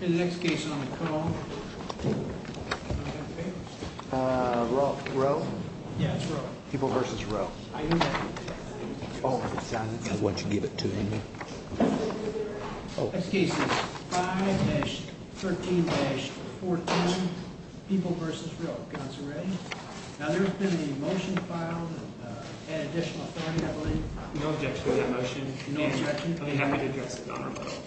In the next case on the call, Roe? Yeah, it's Roe. People v. Roe. I hear that. Oh, the silence is what you give it to, isn't it? Next case is 5-13-14. People v. Roe. Council ready? Now, there's been a motion filed, and additional authority, I believe. No objection to that motion. I'd be happy to address it on our own.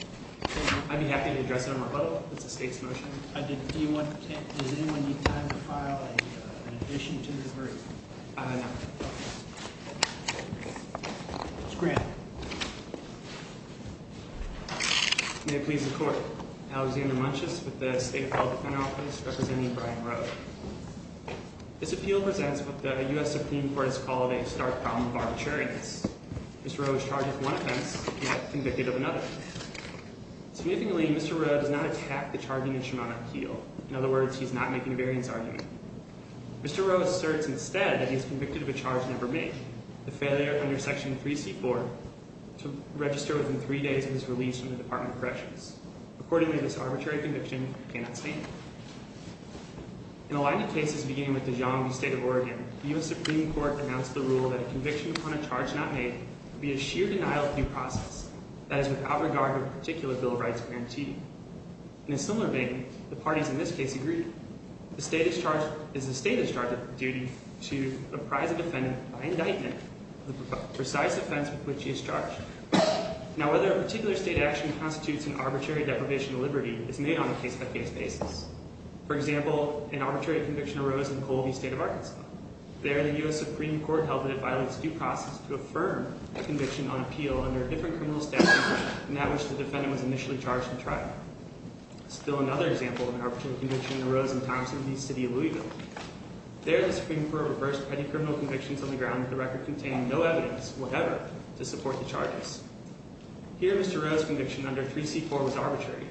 I'd be happy to address it on our own. It's the state's motion. Does anyone need time to file an addition to the group? No. Okay. Mr. Grant. May it please the Court. Alexander Munches with the State Appellate Defense Office, representing Brian Roe. This appeal presents what the U.S. Supreme Court has called a stark problem of arbitrariness. Mr. Roe is charged with one offense, yet convicted of another. Significantly, Mr. Roe does not attack the charging instrument on appeal. In other words, he's not making a variance argument. Mr. Roe asserts instead that he's convicted of a charge never made, the failure under Section 3C-4 to register within three days of his release from the Department of Corrections. Accordingly, this arbitrary conviction cannot stand. In a line of cases beginning with the John B. State of Oregon, the U.S. Supreme Court announced the rule that a conviction upon charge not made would be a sheer denial of due process, that is, without regard to a particular bill of rights guarantee. In a similar vein, the parties in this case agree. The State is charged with the duty to apprise a defendant by indictment of the precise offense with which he is charged. Now, whether a particular state action constitutes an arbitrary deprivation of liberty is made on a case-by-case basis. For example, an arbitrary conviction arose in Colby State of Arkansas. There, the U.S. Supreme Court held that it violates due process to affirm a conviction on appeal under a different criminal statute than that which the defendant was initially charged in trial. Still another example of an arbitrary conviction arose in Thompson v. City of Louisville. There, the Supreme Court reversed petty criminal convictions on the ground that the record contained no evidence, whatever, to support the charges. Here, Mr. Roe's conviction under 3C-4 was arbitrary.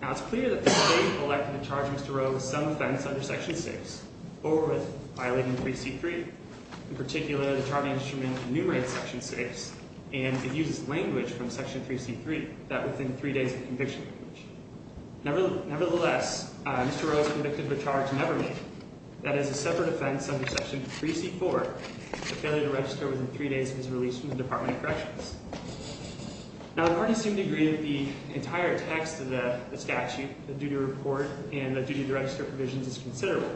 Now, it's clear that the State elected to charge Mr. Roe with some offense under Section 6 or with violating 3C-3. In particular, the charging instrument enumerates Section 6 and it uses language from Section 3C-3, that within three days of conviction. Nevertheless, Mr. Roe is convicted but charged nevermind. That is a separate offense under Section 3C-4, the failure to register within three days of his release from the Department of Corrections. Now, the parties seem to agree that the entire text of the duty report and the duty to register provisions is considerable.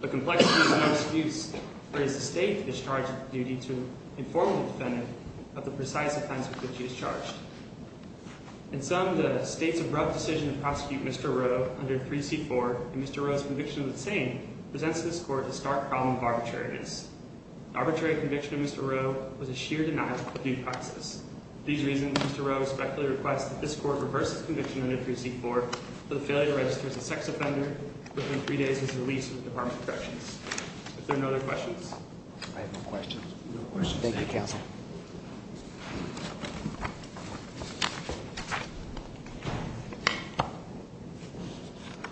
The complexity of the misuse raised the State to discharge the duty to inform the defendant of the precise offense with which he is charged. In sum, the State's abrupt decision to prosecute Mr. Roe under 3C-4 and Mr. Roe's conviction of the same presents this Court with a stark problem of arbitrariness. The arbitrary conviction of Mr. Roe was a sheer denial of due process. For these reasons, Mr. Roe respectfully requests that this the failure to register as a sex offender within three days of his release from the Department of Corrections. Are there no other questions? I have no questions. No questions. Thank you, Counsel.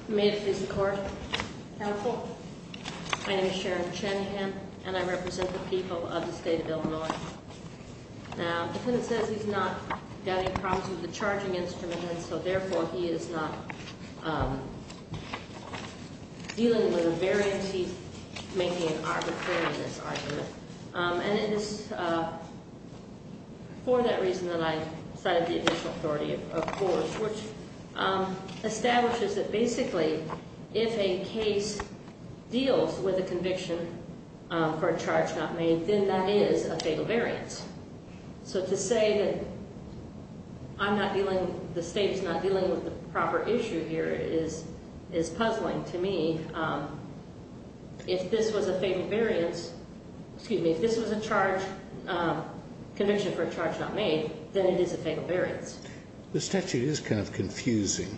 May it please the Court. Counsel, my name is Sharon Chenahan and I represent the people of the State of Illinois. Now, the defendant says he's not got any problems with the State's dealing with a variance. He's making an arbitrariness argument. And it is for that reason that I cited the additional authority of the Court, which establishes that basically if a case deals with a conviction for a charge not made, then that is a fatal variance. So to say that I'm not dealing, the State is not dealing with a proper issue here is puzzling to me. If this was a fatal variance, excuse me, if this was a charge, conviction for a charge not made, then it is a fatal variance. The statute is kind of confusing.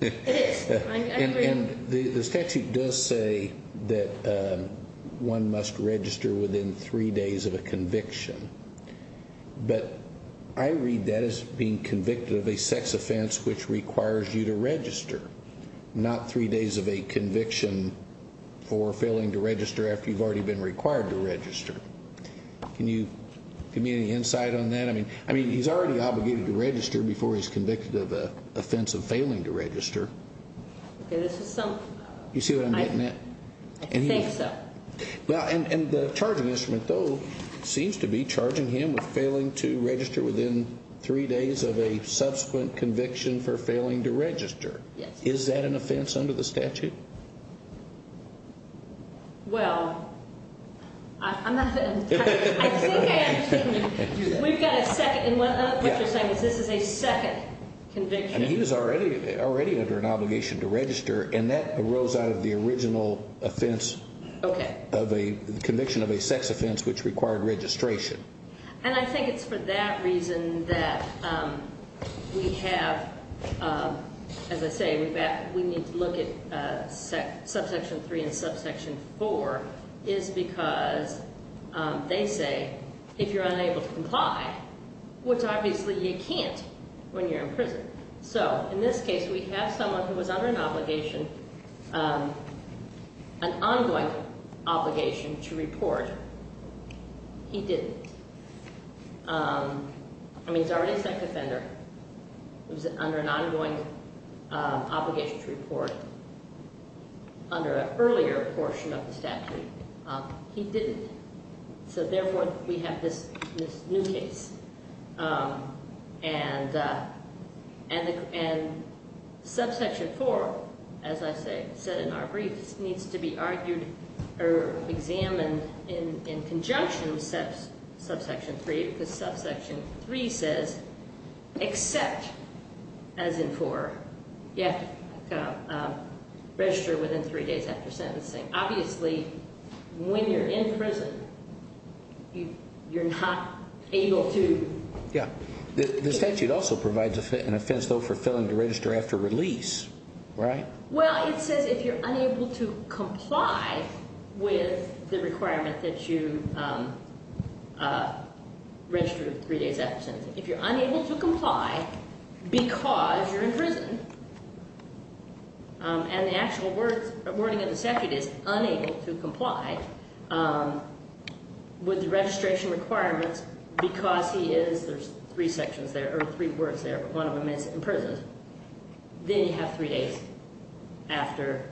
It is. I agree. And the statute does say that one must register within three days of a conviction. But I read that as being convicted of a sex offense which requires you to register, not three days of a conviction for failing to register after you've already been required to register. Can you give me any insight on that? I mean, he's already obligated to register before he's convicted of an offense of failing to register. You see what I'm getting at? I think so. Well, and the charging instrument, though, seems to be charging him with failing to register within three days of a conviction for failing to register. Yes. Is that an offense under the statute? Well, I'm not going to touch it. I think I understand you. We've got a second. What you're saying is this is a second conviction. I mean, he was already under an obligation to register, and that arose out of the original offense of a conviction of a sex offense which required registration. And I think it's for that reason that we have, as I say, we need to look at subsection 3 and subsection 4 is because they say if you're unable to comply, which obviously you can't when you're in prison. So in this case, we have someone who was under an obligation, an ongoing obligation to report. He didn't. I mean, he's already a sex offender. He was under an ongoing obligation to report under an earlier portion of the statute. He didn't. So therefore, we have this new case. And subsection 4, as I said in our briefs, needs to be argued or examined in conjunction with subsection 3 because subsection 3 says except, as in 4, you have to register within three days after sentencing. Obviously, when you're in prison, you're not able to. Yeah. The statute also provides an offense, though, for failing to register after release, right? Well, it says if you're unable to comply with the requirement that you register three days after sentencing. If you're unable to comply because you're in prison and the actual wording of the statute is unable to comply with the registration requirements because he is, there's three sections there or three words there, but one of them is imprisoned, then you have three days after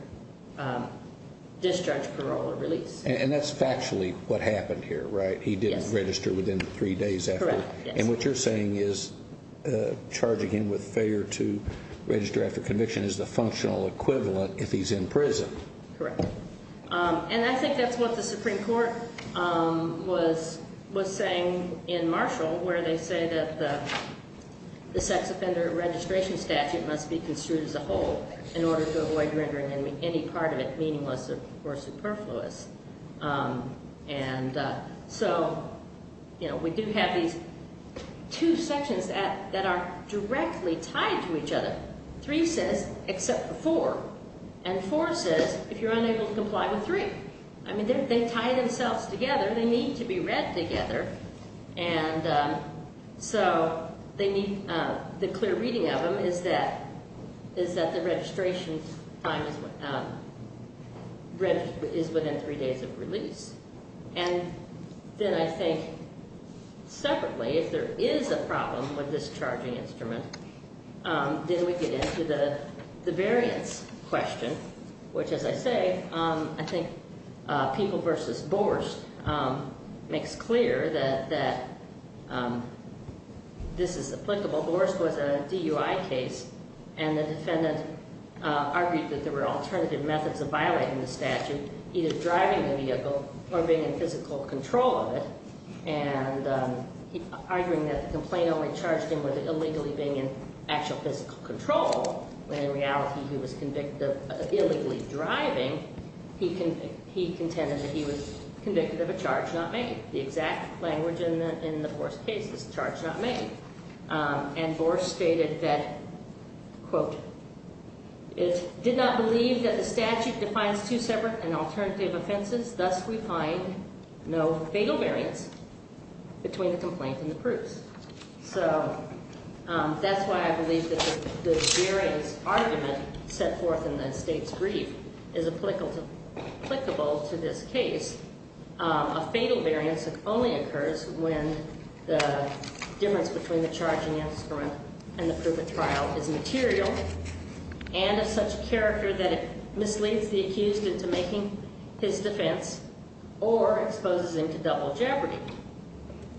discharge, parole, or release. And that's factually what happened here, right? Yes. He didn't register within three days after. Correct, yes. And what you're saying is charging him with failure to register after conviction is the functional equivalent if he's in prison. Correct. And I think that's what the Supreme Court was saying in Marshall where they say that the sex offender registration statute must be construed as a whole in order to avoid rendering any part of it meaningless or superfluous. And so, you know, we do have these two sections that are directly tied to each other. Three says except for four, and four says if you're unable to comply with three. I mean, they tie themselves together. They need to be read together. And so they need the clear reading of them is that the registration time is within three days of release. And then I think separately, if there is a problem with this charging instrument, then we get into the variance question, which, as I say, I think People v. Borst makes clear that this is applicable. Borst was a DUI case, and the defendant argued that there were alternative methods of violating the statute, either driving the vehicle or being in physical control of it, and arguing that the complaint only charged him with illegally being in actual physical control when in reality he was convicted of illegally driving, he contended that he was convicted of a charge not made. The exact language in the Borst case is charge not made. And Borst stated that, quote, it did not believe that the statute defines two separate and alternative offenses, thus we find no fatal variance between the complaint and the proofs. So that's why I believe that the variance argument set forth in the state's brief is applicable to this case. A fatal variance only occurs when the difference between the charging instrument and the proof of trial is material and of such character that it misleads the accused into making his defense or exposes him to double jeopardy.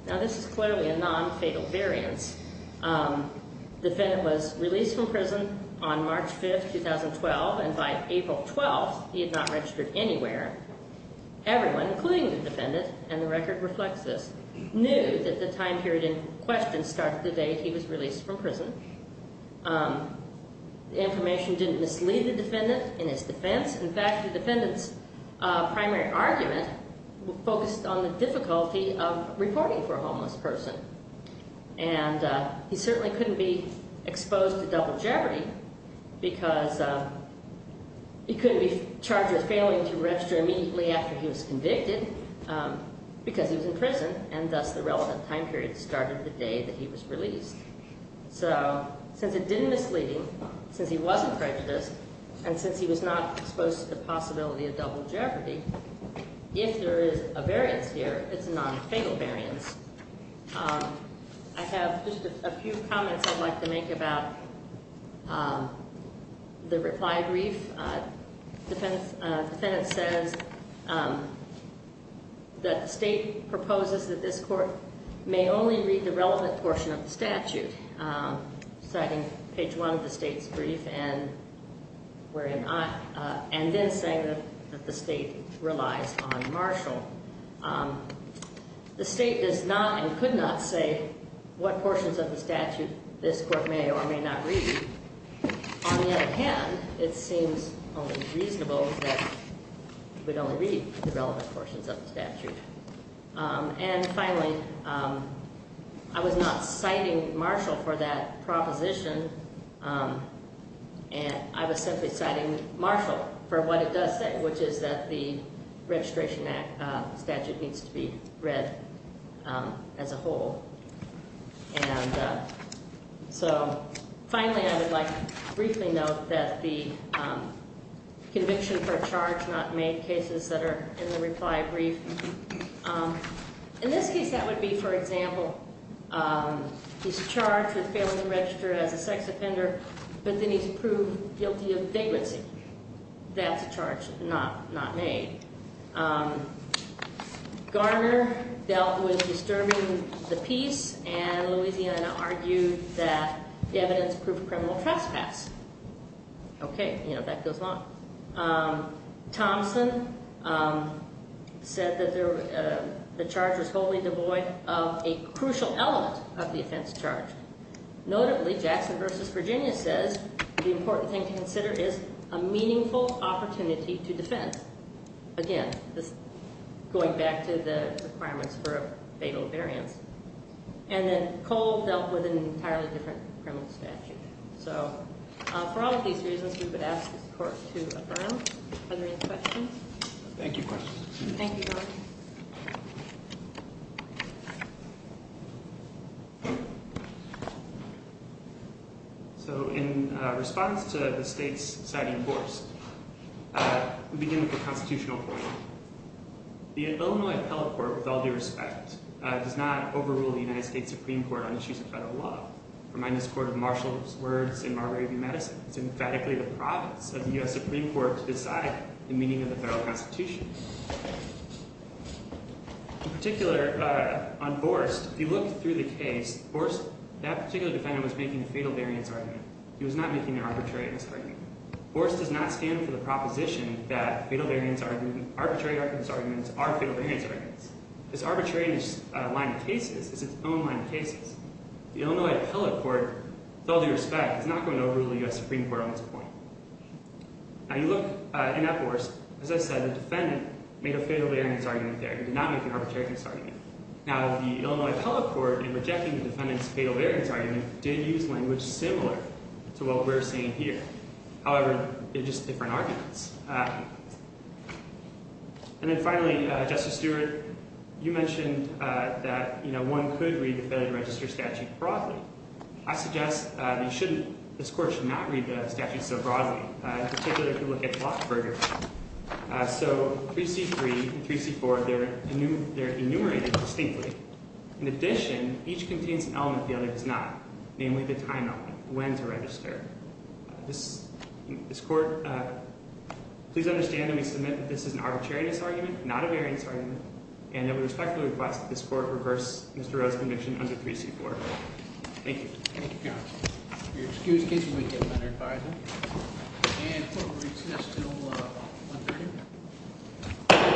Now, this is clearly a non-fatal variance. The defendant was released from prison on March 5, 2012, and by April 12, he had not registered anywhere. Everyone, including the defendant, and the record reflects this, knew that the time period in question starts the day he was released from prison. The information didn't mislead the defendant in his defense. In fact, the defendant's primary argument focused on the difficulty of reporting for a homeless person, and he certainly couldn't be exposed to double jeopardy because he couldn't be charged with failing to register immediately after he was convicted because he was in prison, and thus the relevant time period started the day that he was released. So since it didn't mislead him, since he wasn't prejudiced, and since he was not exposed to the possibility of double jeopardy, if there is a variance here, it's a non-fatal variance. I have just a few comments I'd like to make about the reply brief. The defendant says that the state proposes that this court may only read the relevant portion of the statute, citing page 1 of the state's brief and then saying that the state relies on Marshall. The state does not and could not say what portions of the statute this court may or may not read. On the other hand, it seems only reasonable that we'd only read the relevant portions of the statute. And finally, I was not citing Marshall for that proposition. I was simply citing Marshall for what it does say, which is that the Registration Act statute needs to be read as a whole. So finally, I would like to briefly note that the conviction for a charge has not made cases that are in the reply brief. In this case, that would be, for example, he's charged with failing to register as a sex offender, but then he's proved guilty of vagrancy. That's a charge not made. Garner dealt with disturbing the peace, and Louisiana argued that the evidence proved criminal trespass. Okay, you know, that goes on. Thompson said that the charge was wholly devoid of a crucial element of the offense charge. Notably, Jackson v. Virginia says the important thing to consider is a meaningful opportunity to defend. Again, this is going back to the requirements for a fatal variance. And then Cole dealt with an entirely different criminal statute. So for all of these reasons, we would ask this Court to adjourn. Are there any questions? Thank you, Court. Thank you, Your Honor. So in response to the state's citing force, we begin with the Constitutional Court. The Illinois Appellate Court, with all due respect, does not overrule the United States Supreme Court on issues of federal law. Remind this Court of Marshall's words in Marbury v. Madison. It's emphatically the province of the U.S. Supreme Court to decide the meaning of the federal Constitution. In particular, on Horst, if you look through the case, Horst, that particular defendant, was making a fatal variance argument. He was not making an arbitrariness argument. Horst does not stand for the proposition that arbitrariness arguments are fatal variance arguments. This arbitrariness line of cases is its own line of cases. The Illinois Appellate Court, with all due respect, is not going to overrule the U.S. Supreme Court on this point. Now, you look in that Horst, as I said, the defendant made a fatal variance argument there. He did not make an arbitrariness argument. Now, the Illinois Appellate Court, in rejecting the defendant's fatal variance argument, did use language similar to what we're seeing here. However, they're just different arguments. And then finally, Justice Stewart, you mentioned that, you know, one could read the Federal Register Statute broadly. I suggest that you shouldn't. This Court should not read the statute so broadly. In particular, if you look at Flachberger. So, 3C3 and 3C4, they're enumerated distinctly. In addition, each contains an element the other does not, namely the time element, when to register. This Court, please understand that we submit that this is an arbitrariness argument, not a variance argument, and that we respectfully request that this Court reverse Mr. Rowe's conviction under 3C4. Thank you. Thank you, counsel. If you're excused, kids, you might get better advising. And court will recess until 1.30.